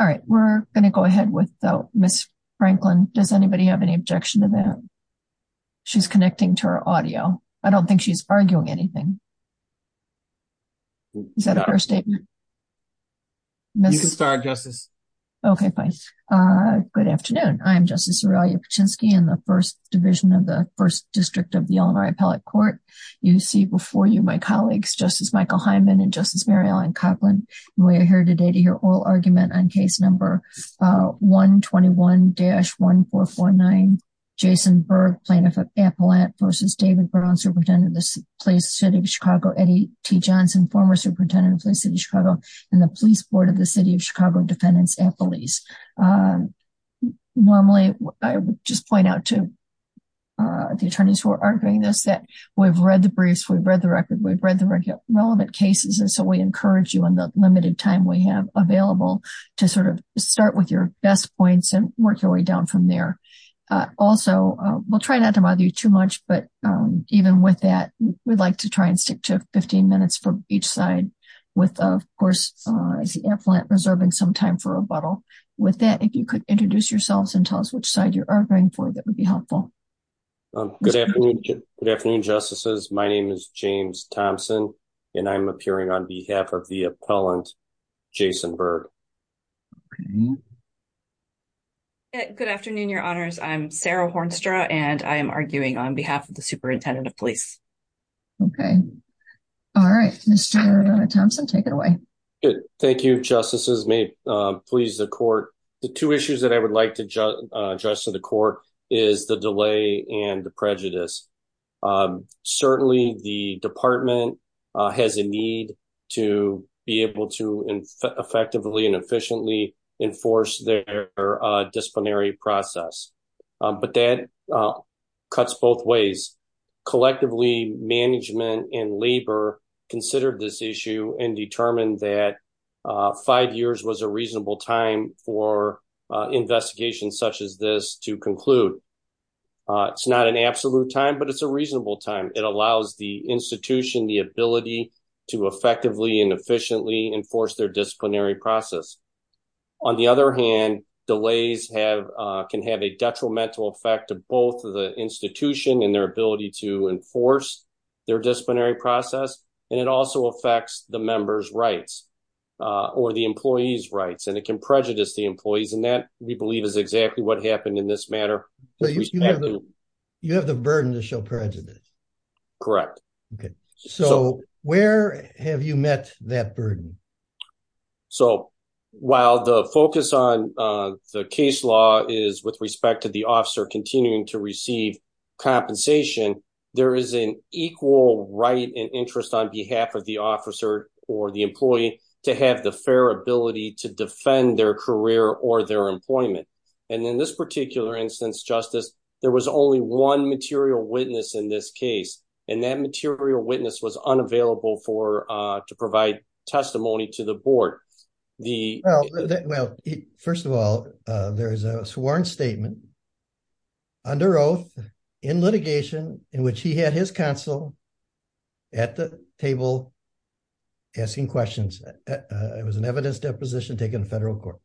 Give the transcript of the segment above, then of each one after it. All right, we're going to go ahead without Miss Franklin. Does anybody have any objection to that? She's connecting to her audio. I don't think she's arguing anything. Is that a fair statement? You can start, Justice. Okay, fine. Good afternoon. I'm Justice Aurelia Paczynski in the First Division of the First District of the Illinois Appellate Court. You see before you my colleagues, Justice Michael Hyman and Justice Mary Ellen Coughlin. We're here today to hear oral argument on case number 121-1449, Jason Berg, Plaintiff Appellant v. David Brown, Superintendent of the Police, City of Chicago, Eddie T. Johnson, former Superintendent of Police, City of Chicago, and the Police Board of the City of Chicago Defendants Appellees. Normally, I would just point out to the attorneys who are arguing this that we've read the briefs, we've read the record, we've read the relevant cases, and so we encourage you in the limited time we have available to sort of start with your best points and work your way down from there. Also, we'll try not to bother you too much, but even with that, we'd like to try and stick to 15 minutes for each side with, of course, the appellant reserving some time for rebuttal. With that, if you could introduce yourselves and tell us which side you're arguing for, that would be helpful. Good afternoon, justices. My name is James Thompson, and I'm appearing on behalf of the appellant, Jason Berg. Good afternoon, your honors. I'm Sarah Hornstra, and I am arguing on behalf of the Superintendent of Police. Okay. All right. Mr. Thompson, take it away. Thank you, justices. May it please the court. The two issues that I would like to address to the court is the delay and the prejudice. Certainly, the department has a need to be able to effectively and efficiently enforce their disciplinary process, but that cuts both ways. Collectively, management and labor considered this issue and determined that five years was a reasonable time for investigations such as this to conclude. It's not an absolute time, but it's a reasonable time. It allows the institution the ability to effectively and efficiently enforce their disciplinary process. On the other hand, delays can have a detrimental effect to both the institution and their ability to enforce their disciplinary process. It also affects the member's rights or the employee's rights, and it can prejudice the employees. That, we believe, is exactly what happened in this matter. You have the burden to show prejudice. Correct. Where have you met that burden? While the focus on the case law is with respect to the officer continuing to receive compensation, there is an equal right and interest on behalf of the officer or the employee to have the fair ability to defend their career or their employment. In this particular instance, Justice, there was only one material witness in this case, and that material witness was unavailable to provide testimony to the board. First of all, there is a sworn statement under oath in litigation in which he had his counsel at the table asking questions. It was an evidence deposition taken in federal court.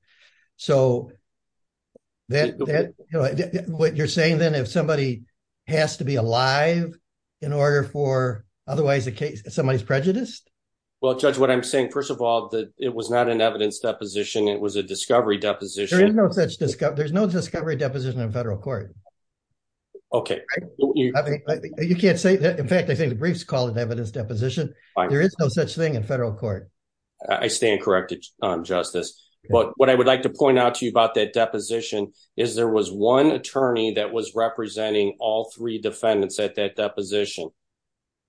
What you're saying then, if somebody has to be alive in order for otherwise somebody's prejudiced? Well, Judge, what I'm saying, first of all, it was not an evidence deposition. It was a there's no discovery deposition in federal court. Okay. You can't say that. In fact, I think the briefs call it evidence deposition. There is no such thing in federal court. I stand corrected, Justice. But what I would like to point out to you about that deposition is there was one attorney that was representing all three defendants at that deposition.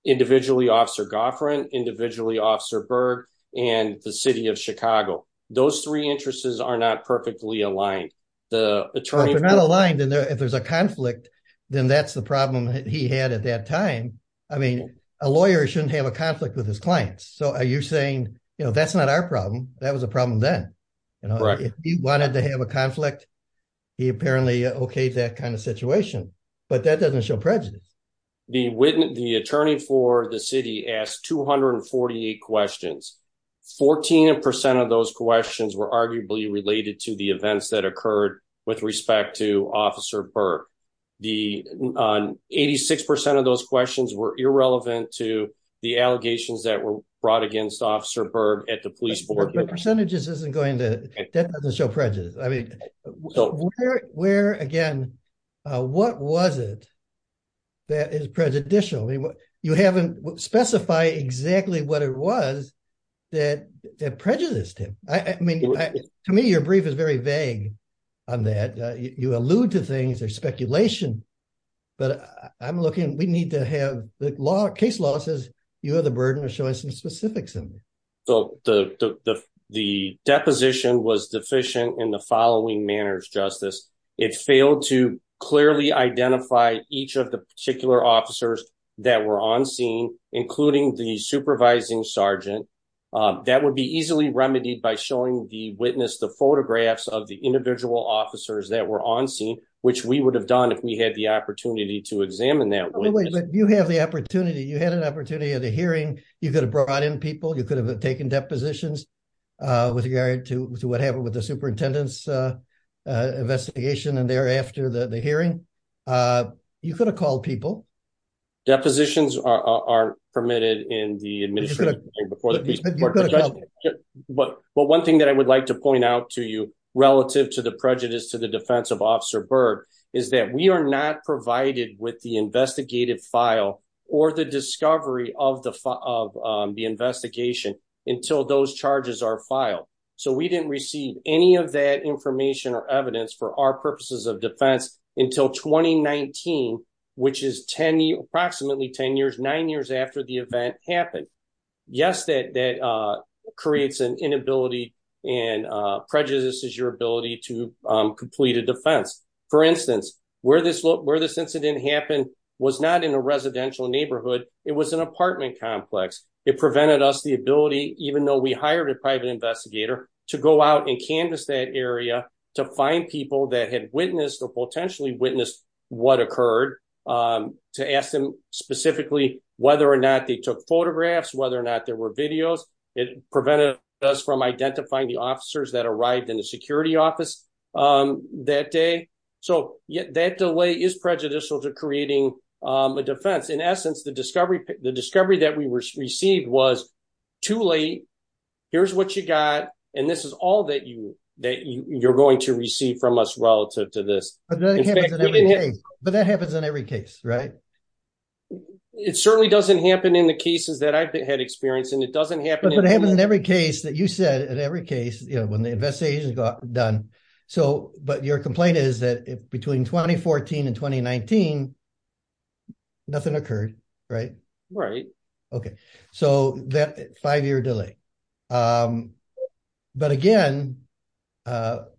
Individually, Officer Goffrin, individually, Officer Berg, and the city of Chicago. Those three interests are not perfectly aligned. If they're not aligned and if there's a conflict, then that's the problem that he had at that time. I mean, a lawyer shouldn't have a conflict with his clients. So are you saying, that's not our problem. That was a problem then. If he wanted to have a conflict, he apparently okayed that kind of situation, but that doesn't show prejudice. The attorney for the city asked 248 questions. 14% of those questions were arguably related to the events that occurred with respect to Officer Berg. 86% of those questions were irrelevant to the allegations that were brought against Officer Berg at the police board. But percentages isn't going to, that doesn't show prejudice. I mean, where again, what was it that is prejudicial? You haven't specified exactly what it was that prejudiced him. I mean, to me, your brief is very vague on that. You allude to things, there's speculation, but I'm looking, we need to have the law, case law says you have the burden of showing some specifics. So the deposition was deficient in the following manners, Justice. It failed to that were on scene, including the supervising Sergeant. That would be easily remedied by showing the witness, the photographs of the individual officers that were on scene, which we would have done if we had the opportunity to examine that. You have the opportunity, you had an opportunity at a hearing, you could have brought in people, you could have taken depositions with regard to what happened with the superintendent's there after the hearing. You could have called people. Depositions are permitted in the administration. But one thing that I would like to point out to you relative to the prejudice to the defense of Officer Berg is that we are not provided with the investigative file or the discovery of the investigation until those charges are filed. So we didn't receive any of that information or evidence for our purposes of defense until 2019, which is approximately 10 years, nine years after the event happened. Yes, that creates an inability and prejudices your ability to complete a defense. For instance, where this incident happened was not in a residential neighborhood, it was an apartment complex. It prevented us the ability, even though we hired a private investigator to go out and canvas that area to find people that had witnessed or potentially witnessed what occurred to ask them specifically whether or not they took photographs, whether or not there were videos. It prevented us from identifying the officers that arrived in the security office that day. So that delay is prejudicial to creating a defense. In essence, the discovery that we received was too late. Here's what you got. And this is all that you're going to receive from us relative to this. But that happens in every case, right? It certainly doesn't happen in the cases that I've had experience and it doesn't happen. But it happens in every case that you said, in every case, you know, when the investigation got done. So but your complaint is that between 2014 and 2019, nothing occurred, right? Right. Okay. So that five year delay. But again, delay,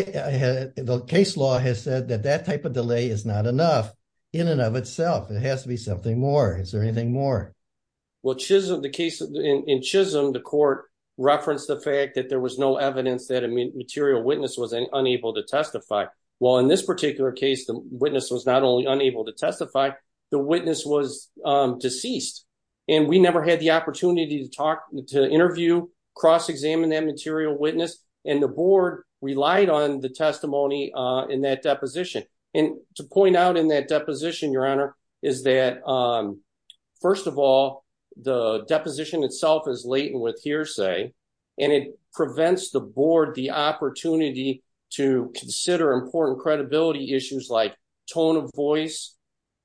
the case law has said that that type of delay is not enough. In and of itself, it has to be something more. Is there anything more? Well, Chisholm, the case in Chisholm, the court referenced the fact that there was no evidence that a material witness was unable to testify. Well, in this particular case, the witness was not only unable to testify, the witness was deceased. And we never had the opportunity to talk to interview cross examine that material witness. And the board relied on the testimony in that deposition. And to point out in that deposition, Your Honor, is that, first of all, the deposition itself is latent with to consider important credibility issues like tone of voice,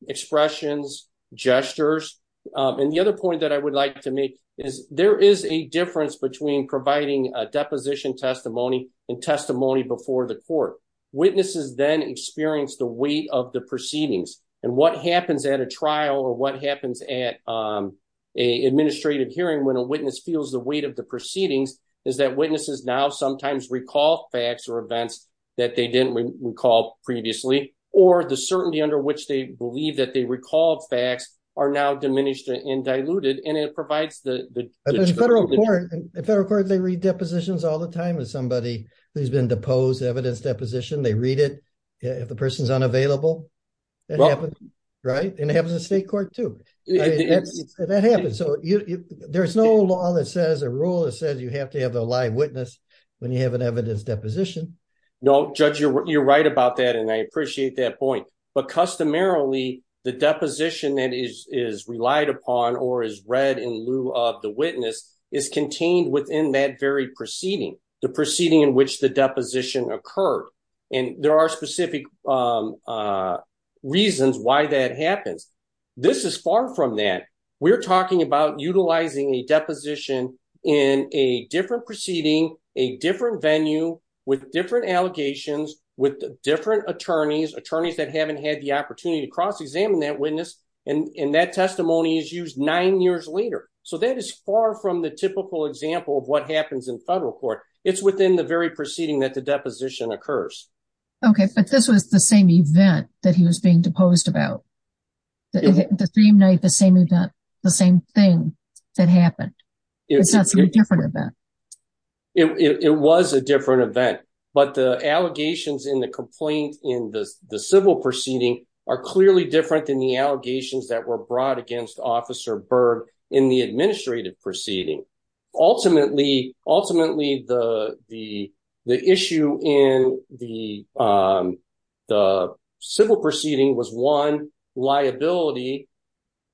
expressions, gestures. And the other point that I would like to make is there is a difference between providing a deposition testimony and testimony before the court witnesses then experience the weight of the proceedings. And what happens at a trial or what happens at a administrative hearing when a witness feels the proceedings is that witnesses now sometimes recall facts or events that they didn't recall previously, or the certainty under which they believe that they recall facts are now diminished and diluted. And it provides the federal court, they read depositions all the time with somebody who's been deposed evidence deposition, they read it, if the person's unavailable. Well, right, and have the state court to that happens. So there's no law that says a rule that says you have to have a live witness when you have an evidence deposition. No, judge, you're right about that. And I appreciate that point. But customarily, the deposition that is relied upon or is read in lieu of the witness is contained within that very the proceeding in which the deposition occurred. And there are specific reasons why that happens. This is far from that we're talking about utilizing a deposition in a different proceeding, a different venue with different allegations with different attorneys, attorneys that haven't had the opportunity to cross examine that witness. And that testimony is used nine years later. So that is far from the typical example of what happens in federal court. It's within the very proceeding that the deposition occurs. Okay, but this was the same event that he was being deposed about the same night, the same event, the same thing that happened. It's a different event. It was a different event. But the allegations in the complaint in the civil proceeding are different than the allegations that were presented to Officer Berg in the administrative proceeding. Ultimately, the issue in the civil proceeding was one, liability,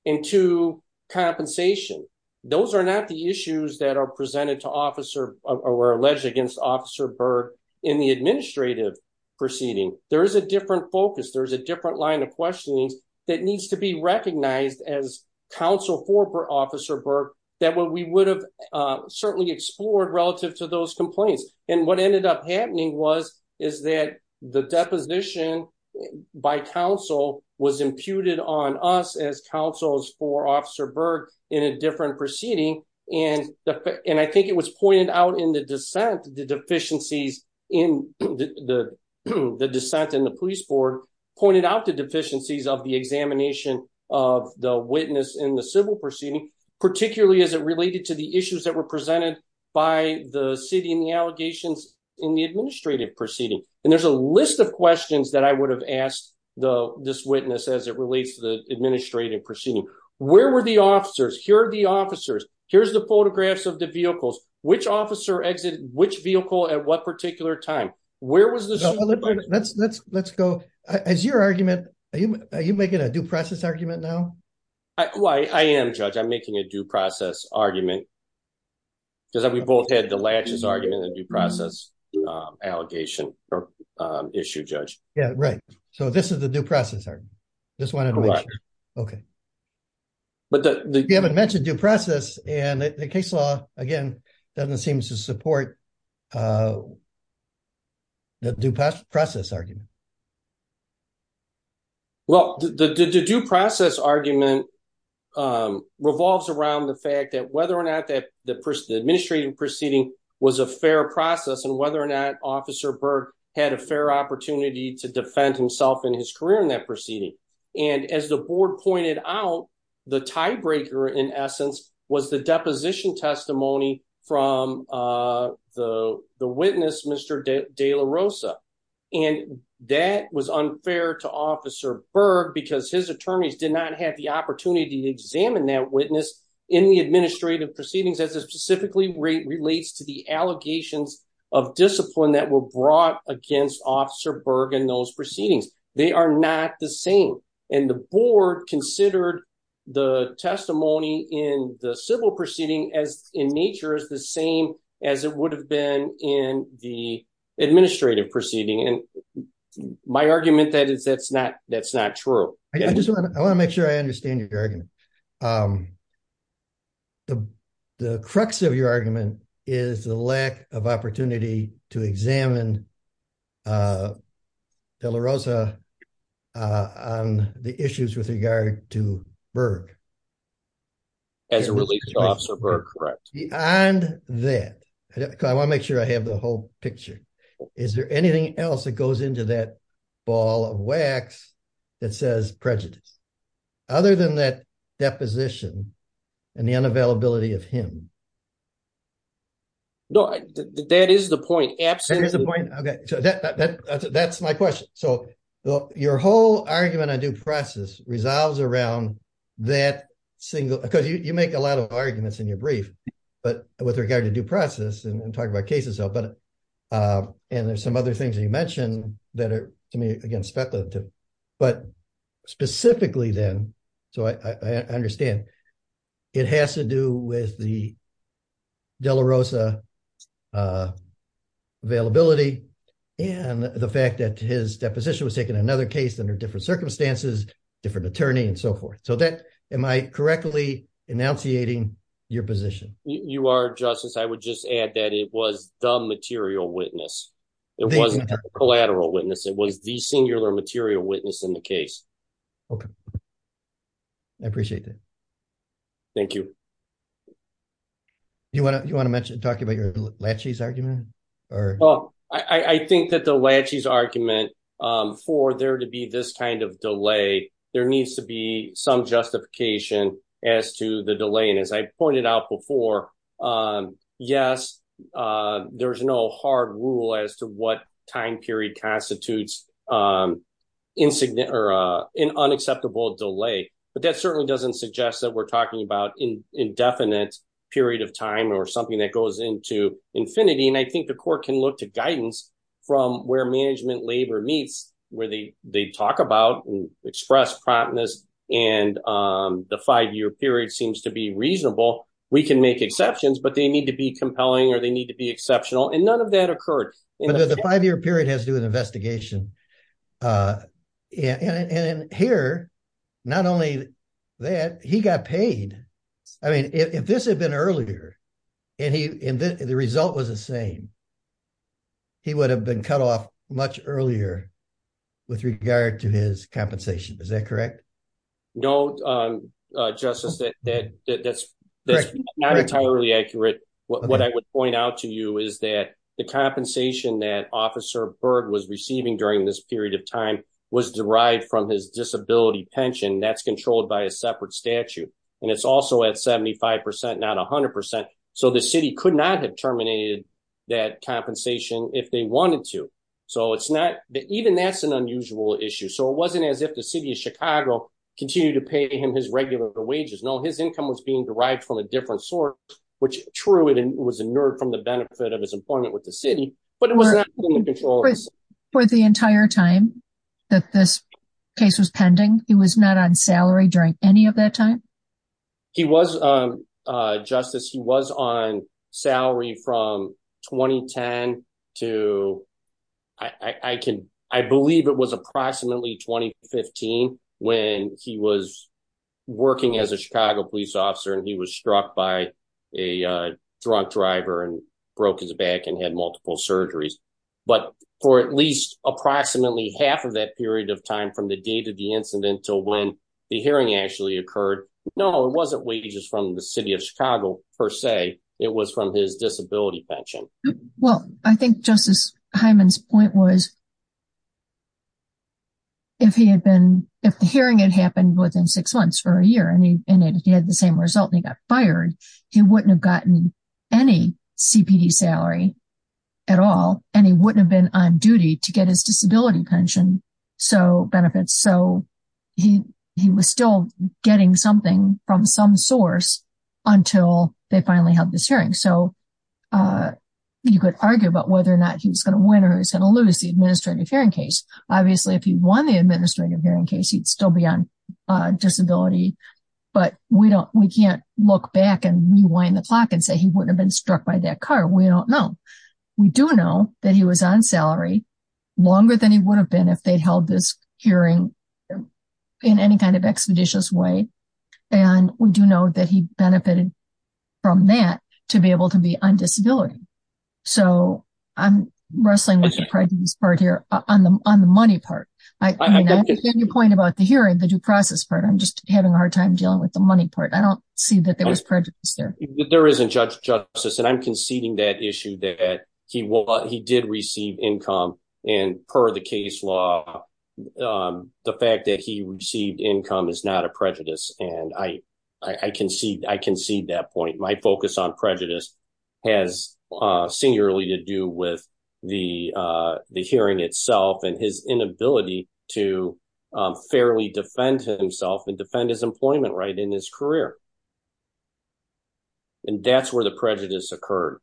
and two, compensation. Those are not the issues that are presented to Officer or alleged against Officer Berg in the administrative proceeding. There is a different focus. There's a different line of questioning that needs to be recognized as counsel for Officer Berg that what we would have certainly explored relative to those complaints. And what ended up happening was, is that the deposition by counsel was imputed on us as counsels for Officer Berg in a different proceeding. And I think it was pointed out in the dissent, the deficiencies in the dissent in the police board pointed out the deficiencies of the examination of the witness in the civil proceeding, particularly as it related to the issues that were presented by the city and the allegations in the administrative proceeding. And there's a list of questions that I would have asked this witness as it relates to the administrative proceeding. Where were the officers? Here are the officers. Here's the photographs of the vehicles. Which officer exited which vehicle at what particular time? Where was the... Let's go. As your argument, are you making a due process argument now? I am, Judge. I'm making a due process argument because we both had the latches argument and due process allegation issue, Judge. Yeah, right. So this is the due process argument. Just wanted to make sure. Okay. But you haven't mentioned due process and the case law, again, doesn't seem to support the due process argument. Well, the due process argument revolves around the fact that whether or not the administrative proceeding was a fair process and whether or not Officer Berg had a fair opportunity to defend himself in his career in that proceeding. And as the board pointed out, the tiebreaker in essence was the deposition testimony from the witness, Mr. De La Rosa. And that was unfair to Officer Berg because his attorneys did not have the opportunity to examine that witness in the administrative proceedings as it specifically relates to the allegations of discipline that were brought against Officer Berg in those proceedings. And the board considered the testimony in the civil proceeding as in nature is the same as it would have been in the administrative proceeding. And my argument that is that's not true. I just want to make sure I understand your argument. The crux of your argument is the lack of opportunity to examine De La Rosa on the issues with regard to Berg. As it relates to Officer Berg, correct. Beyond that, because I want to make sure I have the whole picture, is there anything else that goes into that ball of wax that says prejudice? Other than that deposition and the unavailability of him? No, that is the point. That's my question. So your whole argument on due process resolves around that single, because you make a lot of arguments in your brief, but with regard to due process and talk about cases. And there's some other things that you with the De La Rosa availability and the fact that his deposition was taken another case under different circumstances, different attorney and so forth. So that am I correctly enunciating your position? You are justice. I would just add that it was the material witness. It wasn't a collateral witness. It was the singular material witness in the case. Okay. I appreciate that. Thank you. Do you want to talk about your Lachey's argument? Oh, I think that the Lachey's argument for there to be this kind of delay, there needs to be some justification as to the delay. And as I pointed out before, yes, there's no hard rule as to what time period constitutes an unacceptable delay. But that certainly doesn't suggest that we're talking about indefinite period of time or something that goes into infinity. And I think the court can look to guidance from where management labor meets where they talk about and express promptness and the five-year period seems to be reasonable. We can make exceptions, but they need to be compelling or they need to be exceptional. And none of that occurred. The five-year period has to do with investigation. And here, not only that, he got paid. I mean, if this had been earlier and the result was the same, he would have been cut off much earlier with regard to his compensation. Is that correct? No, Justice. That's not entirely accurate. What I would point out to you is that the compensation that Officer Berg was receiving during this period of time was derived from his disability pension. That's controlled by a separate statute. And it's also at 75%, not 100%. So the city could not have terminated that compensation if they wanted to. So it's not that even that's an unusual issue. So it wasn't as if the city of Chicago continued to pay him his regular wages. No, his income was being derived from a different source, which true, it was inert from the benefit of his employment with the city. But it was not in the control of the city. For the entire time that this case was pending, he was not on salary during any of that time? He was, Justice. He was on salary from 2010 to... I believe it was approximately 2015 when he was working as a Chicago police officer and he was struck by a drunk driver and broke his back and had multiple surgeries. But for at least approximately half of that period of time from the date of the incident to when the hearing actually occurred, no, it wasn't wages from the city of Chicago per se. It was from his disability pension. Well, I think Justice Hyman's point was if he had been, if the hearing had happened within six months or a year and he had the same result and he got fired, he wouldn't have gotten any CPD salary at all. And he wouldn't have been on duty to get his disability pension benefits. So he was still getting something from some source until they finally held this hearing. So you could argue about whether or not he was going to win or he was going to lose the administrative hearing case. Obviously, if he won the administrative hearing case, he'd still be on disability, but we can't look back and rewind the clock and say he wouldn't have been struck by that car. We don't know. We do know that he was on salary longer than he would have been if they'd held this hearing in any kind of expeditious way. And we do know that he benefited from that to be able to be on disability. So I'm wrestling with the prejudice part here on the money part. I mean, I understand your point about the hearing, the due process part. I'm just having a hard time dealing with the money part. I don't see that there was prejudice there. There isn't, Judge Justice, and I'm conceding that issue that he did receive income and per the case law, the fact that he received income is not a prejudice. And I concede that point. My focus on prejudice has singularly to do with the hearing itself and his inability to fairly defend himself and defend his employment right in his career. And that's where the prejudice occurred.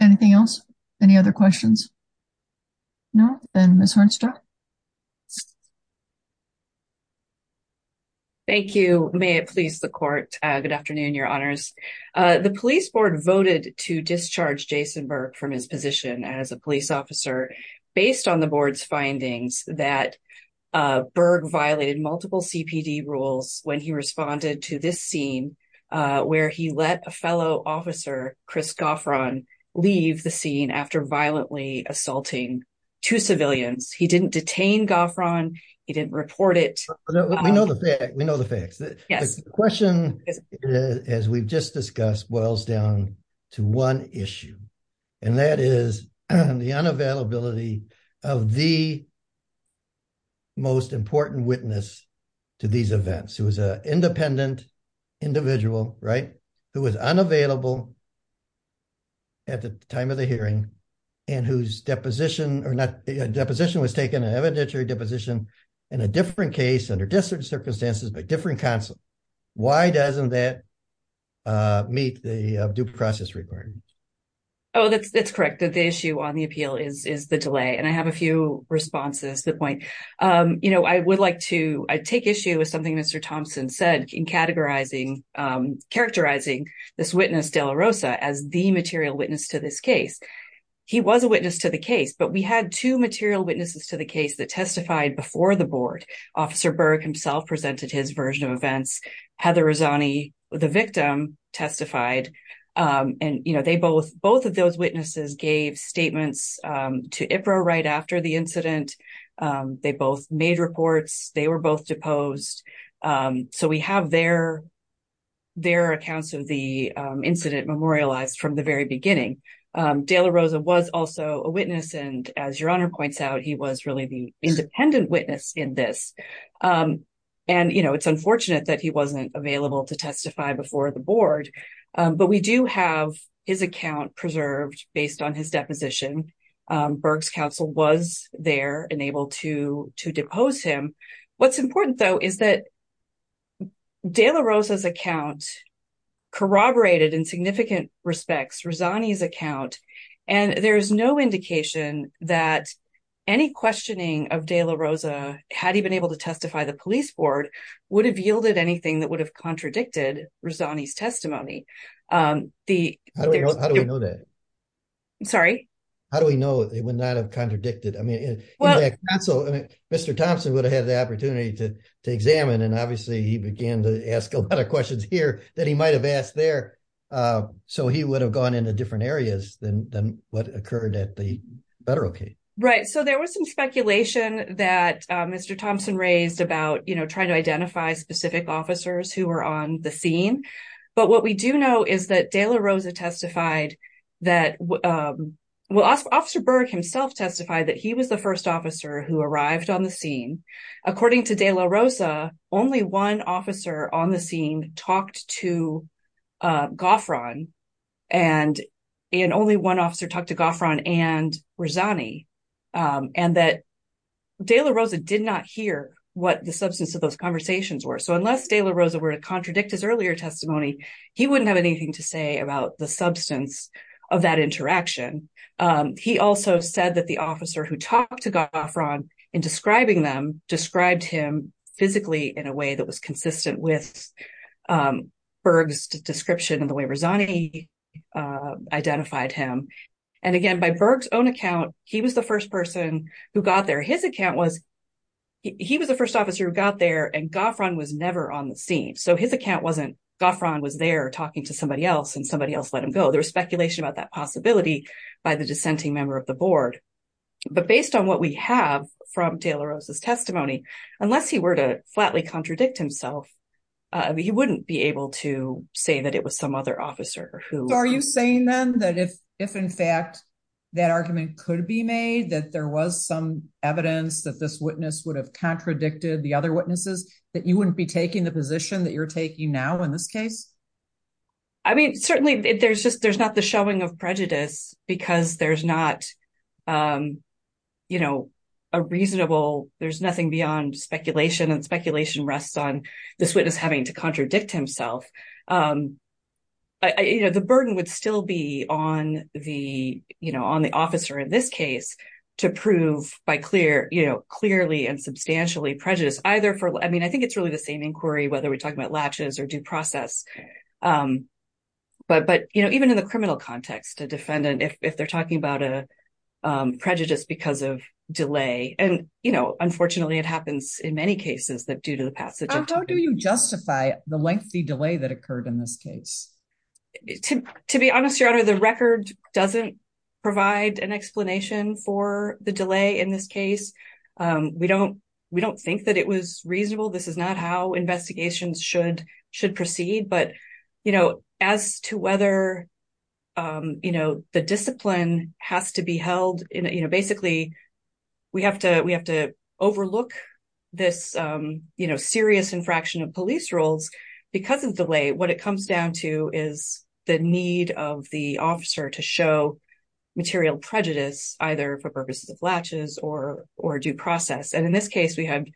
Anything else? Any other questions? No. And Ms. Hornstra. Thank you. May it please the court. Good afternoon, your honors. The police board voted to discharge Jason Berg from his position as a police officer based on the board's findings that Berg violated multiple CPD rules when he responded to this scene where he let a fellow two civilians. He didn't detain Goffron. He didn't report it. We know the facts. The question, as we've just discussed, boils down to one issue, and that is the unavailability of the most important witness to these events, who was an independent individual, right, who was unavailable at the time of the hearing and whose deposition or not deposition was taken an evidentiary deposition in a different case under different circumstances by different counsel. Why doesn't that meet the due process requirement? Oh, that's correct. The issue on the appeal is the delay. And I have a few responses to the point. You know, I would like to take issue with something Mr. Thompson said in characterizing this witness, De La Rosa, as the material witness to this case. He was a witness to the case, but we had two material witnesses to the case that testified before the board. Officer Berg himself presented his version of events. Heather Razzani, the victim, testified. And, you know, they both both of those witnesses gave statements to IPRA right after the incident. They both made reports. They were both deposed. So we have their their accounts of the incident memorialized from the very beginning. De La Rosa was also a witness. And as your honor points out, he was really the independent witness in this. And, you know, it's unfortunate that he wasn't available to testify before the board. But we do have his account preserved based on his deposition. Berg's counsel was there and able to to depose him. What's important, though, is that De La Rosa's account corroborated in significant respects Razzani's account. And there is no indication that any questioning of De La Rosa, had he been able to testify, the police board would have yielded anything that would have contradicted Razzani's testimony. The. How do we know that? Sorry. How do we know it would not have contradicted? I mean, Mr. Thompson would have had the opportunity to to examine. And obviously he began to ask a lot of questions here that he might have asked there. So he would have gone into different areas than what occurred at the federal case. Right. So there was some speculation that Mr. Thompson raised about, you know, trying to identify specific officers who were on the scene. But what we do know is that De La Rosa testified that, well, Officer Berg himself testified that he was the first officer who arrived on the scene. According to De La Rosa, only one officer on the scene talked to Goffron and only one officer talked to Goffron and Razzani. And that De La Rosa did not hear what the substance of those conversations were. So unless De La Rosa were to contradict his earlier testimony, he wouldn't have anything to say about the substance of that interaction. He also said that the officer who talked to Goffron in describing them described him physically in a way that was consistent with Berg's description and the way Razzani identified him. And again, by Berg's own account, he was the first person who got there. His account was he was the first officer who got there and Goffron was never on the scene. So his account wasn't Goffron was there talking to somebody else and somebody else let him go. There was speculation about that possibility by the dissenting member of the board. But based on what we have from De La Rosa's testimony, unless he were to flatly contradict himself, he wouldn't be able to say that it was some other officer. So are you saying then that if in fact that argument could be made, that there was some evidence that this witness would have contradicted the other witnesses, that you wouldn't be taking the position that you're taking now in this case? I mean, certainly there's just there's not the showing of prejudice because there's not, you know, a reasonable, there's nothing beyond speculation and speculation rests on this witness having to contradict himself. You know, the burden would still be on the, you know, on the officer in this case to prove by clear, you know, clearly and substantially prejudice either for, I mean, I think it's really the same inquiry, whether we're talking about latches or due process. But, but, you know, even in the criminal context, a defendant, if they're talking about a prejudice because of delay, and, you know, unfortunately, it happens in many cases that due to the passage, how do you justify the lengthy delay that occurred in this case? To be honest, Your Honor, the record doesn't provide an explanation for the delay in this case. We don't, we don't think that it was reasonable. This is not how investigations should, should proceed. But, you know, as to whether, you know, the discipline has to be held in, you know, basically, we have to, we have to overlook this, you know, serious infraction of police roles. Because of delay, what it comes down to is the need of the officer to show material prejudice, either for purposes of latches or, or due process. And in this case, we had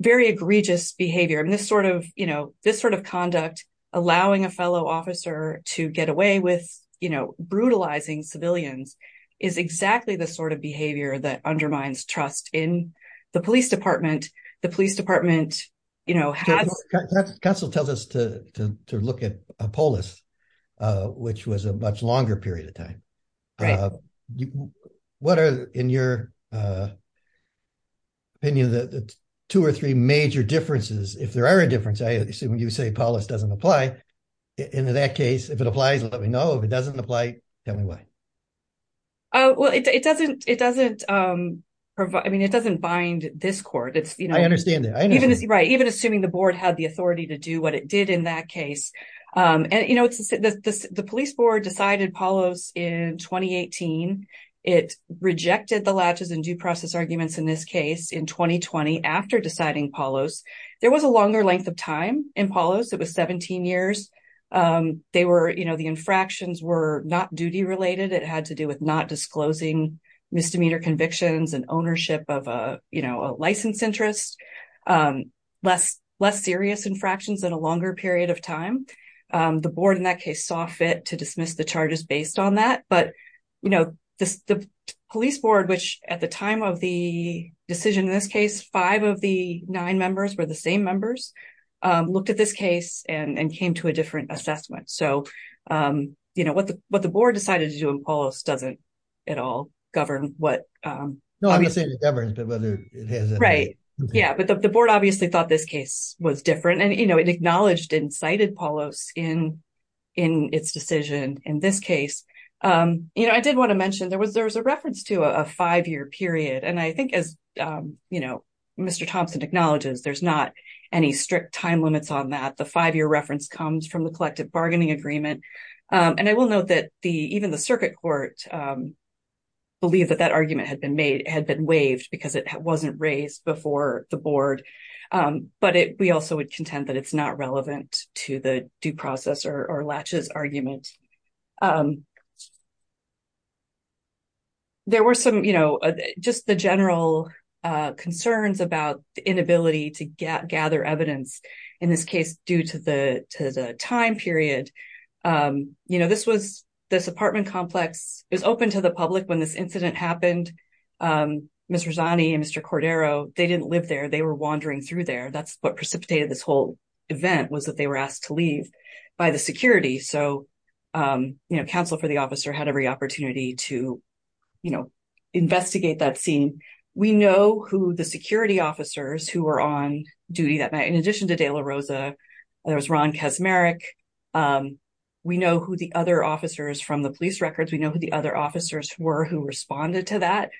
very egregious behavior and this sort of, you know, this sort of conduct, allowing a fellow officer to get away with, you know, brutalizing civilians is exactly the sort of behavior that undermines trust in the police department. The police department, you know, counsel tells us to look at Polis, which was a much longer period of time. What are, in your opinion, the two or three major differences? If there are a difference, I assume you say Polis doesn't apply. In that case, if it applies, let me know. If it doesn't apply, tell me why. Oh, well, it doesn't, it doesn't provide, I mean, it doesn't bind this it's, you know, I understand that. Right. Even assuming the board had the authority to do what it did in that case. And, you know, the police board decided Polis in 2018. It rejected the latches and due process arguments in this case in 2020, after deciding Polis, there was a longer length of time in Polis. It was 17 years. They were, you know, the infractions were not duty related. It had to do with not disclosing misdemeanor convictions and ownership of a, a license interest, less serious infractions and a longer period of time. The board in that case saw fit to dismiss the charges based on that. But, you know, the police board, which at the time of the decision, in this case, five of the nine members were the same members, looked at this case and came to a different assessment. So, you know, what the board decided to do in Polis doesn't at all govern what... No, I'm not saying it governs, but whether it has a... Right. Yeah. But the board obviously thought this case was different and, you know, it acknowledged and cited Polis in, in its decision in this case. You know, I did want to mention there was, there was a reference to a five-year period. And I think as, you know, Mr. Thompson acknowledges, there's not any strict time limits on that. The five-year reference comes from the collective court belief that that argument had been made, had been waived because it wasn't raised before the board. But we also would contend that it's not relevant to the due process or Latch's argument. There were some, you know, just the general concerns about the inability to gather evidence in this case due to the time period. You know, this was, this apartment complex is open to the public when this incident happened. Ms. Rosani and Mr. Cordero, they didn't live there. They were wandering through there. That's what precipitated this whole event was that they were asked to leave by the security. So, you know, counsel for the officer had every opportunity to, you know, investigate that scene. We know who the security officers who were on duty that night, in addition to De La Rosa, there was Ron Kaczmarek. We know who the other officers from the police records, we know who the other officers were who responded to that.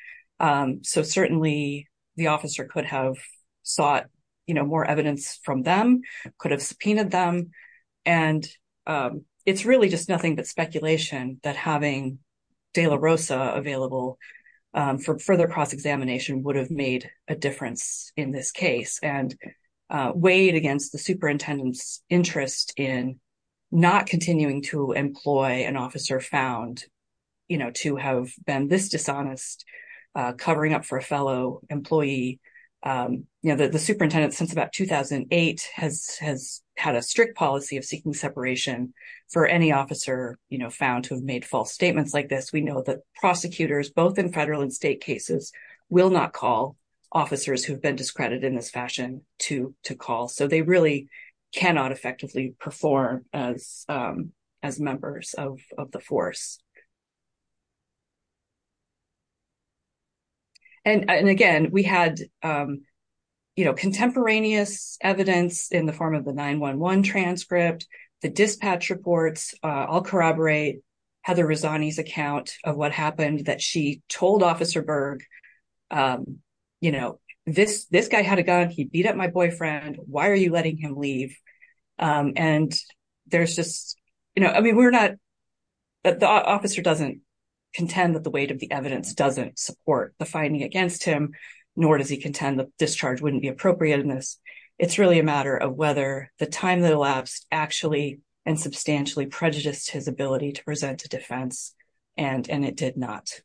So certainly the officer could have sought, you know, more evidence from them, could have subpoenaed them. And it's really just nothing but speculation that having De La Rosa available for further cross-examination would have made a difference in this case and weighed against the superintendent's interest in not continuing to employ an officer found, you know, to have been this dishonest, covering up for a fellow employee. You know, the superintendent since about 2008 has had a strict policy of seeking separation for any officer, you know, found to have made false statements like this. We know that prosecutors, both in federal and state cases, will not call officers who've been discredited in this fashion to call. So they really cannot effectively perform as members of the force. And again, we had, you know, contemporaneous evidence in the form of the 911 transcript, the dispatch reports, I'll corroborate Heather Rizzani's account of what happened, that she told Officer Berg, you know, this guy had a gun, he beat up my boyfriend, why are you letting him leave? And there's just, you know, I mean, we're not, the officer doesn't contend that the weight of the evidence doesn't support the finding against him, nor does he contend that discharge wouldn't be and substantially prejudiced his ability to present a defense, and it did not.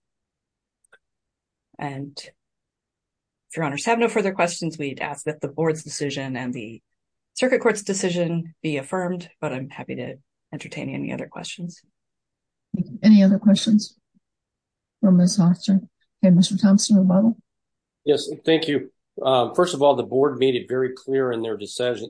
And if your honors have no further questions, we'd ask that the board's decision and the circuit court's decision be affirmed, but I'm happy to entertain any other questions. Any other questions for Ms. Hofstra? Okay, Mr. Thompson, rebuttal? Yes, thank you. First of all, the board made it very clear in their decision,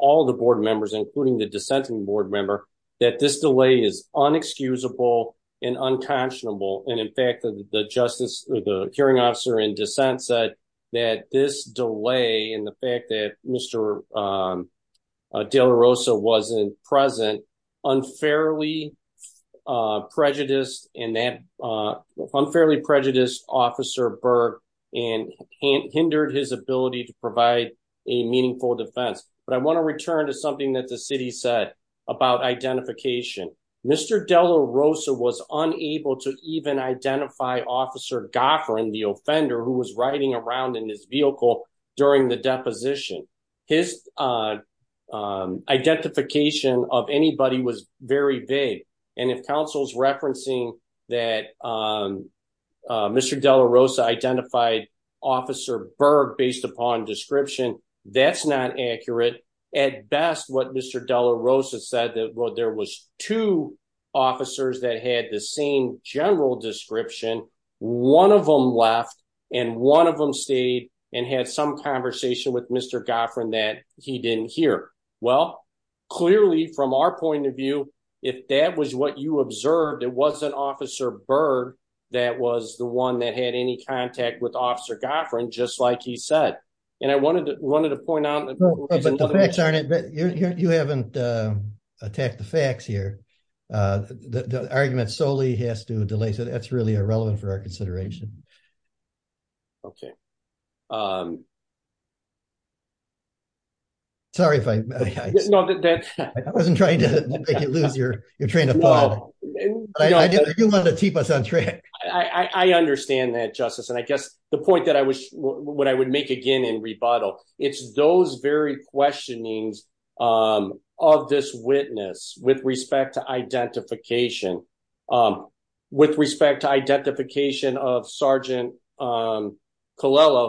all the board members, including the dissenting board member, that this delay is unexcusable and unconscionable. And in fact, the hearing officer in dissent said that this delay and the fact that Mr. De La Rosa wasn't present unfairly prejudiced Officer Berg and hindered his ability to provide a meaningful defense. But I want to return to something that the city said about identification. Mr. De La Rosa was unable to even identify Officer Goffrin, the offender who was riding around in his vehicle during the deposition. His identification of anybody was very vague. And if counsel's referencing that Mr. De La Rosa identified Officer Berg based upon description, that's not accurate. At best, what Mr. De La Rosa said that there was two officers that had the same general description. One of them left and one of them stayed and had some conversation with Mr. Goffrin that he didn't hear. Well, clearly from our point of view, if that was what you observed, it wasn't Officer Berg that was the one that had any contact with Officer Goffrin, just like he said. And I wanted to want to point out that you haven't attacked the facts here. The argument solely has to delay. So that's really irrelevant for our consideration. Okay. Sorry, if I wasn't trying to make you lose your train of thought. You want to the point that I wish what I would make again in rebuttal. It's those very questionings of this witness with respect to identification. With respect to identification of Sergeant Colella,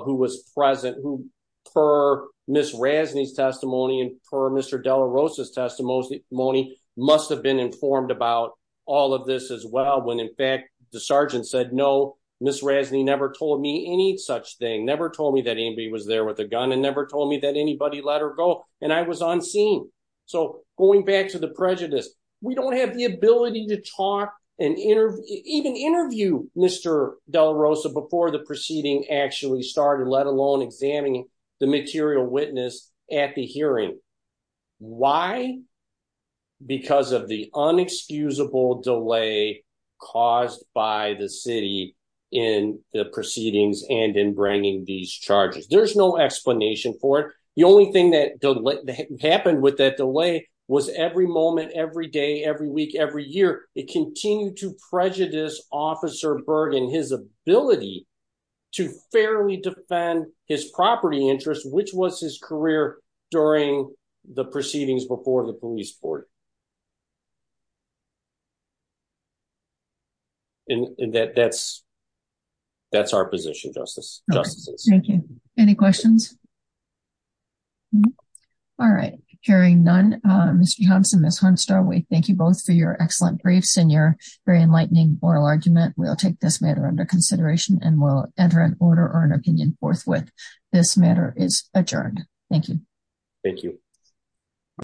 who was present, who per Ms. Razzani's testimony and per Mr. De La Rosa's testimony, must have been informed about all of this as well. When in fact, the sergeant said, no, Ms. Razzani never told me any such thing, never told me that anybody was there with a gun and never told me that anybody let her go. And I was on scene. So going back to the prejudice, we don't have the ability to talk and even interview Mr. De La Rosa before the proceeding actually started, let alone examining the material witness at the hearing. Why? Because of the delay in the proceedings and in bringing these charges. There's no explanation for it. The only thing that happened with that delay was every moment, every day, every week, every year, it continued to prejudice Officer Berg and his ability to fairly defend his property interest, which was his career during the proceedings before the police board. And that's our position, Justices. Thank you. Any questions? All right. Hearing none, Mr. Johnson, Ms. Hornstar, we thank you both for your excellent briefs and your very enlightening oral argument. We'll take this matter under consideration and we'll enter an order or an opinion forthwith. This matter is adjourned. Thank you. Thank you.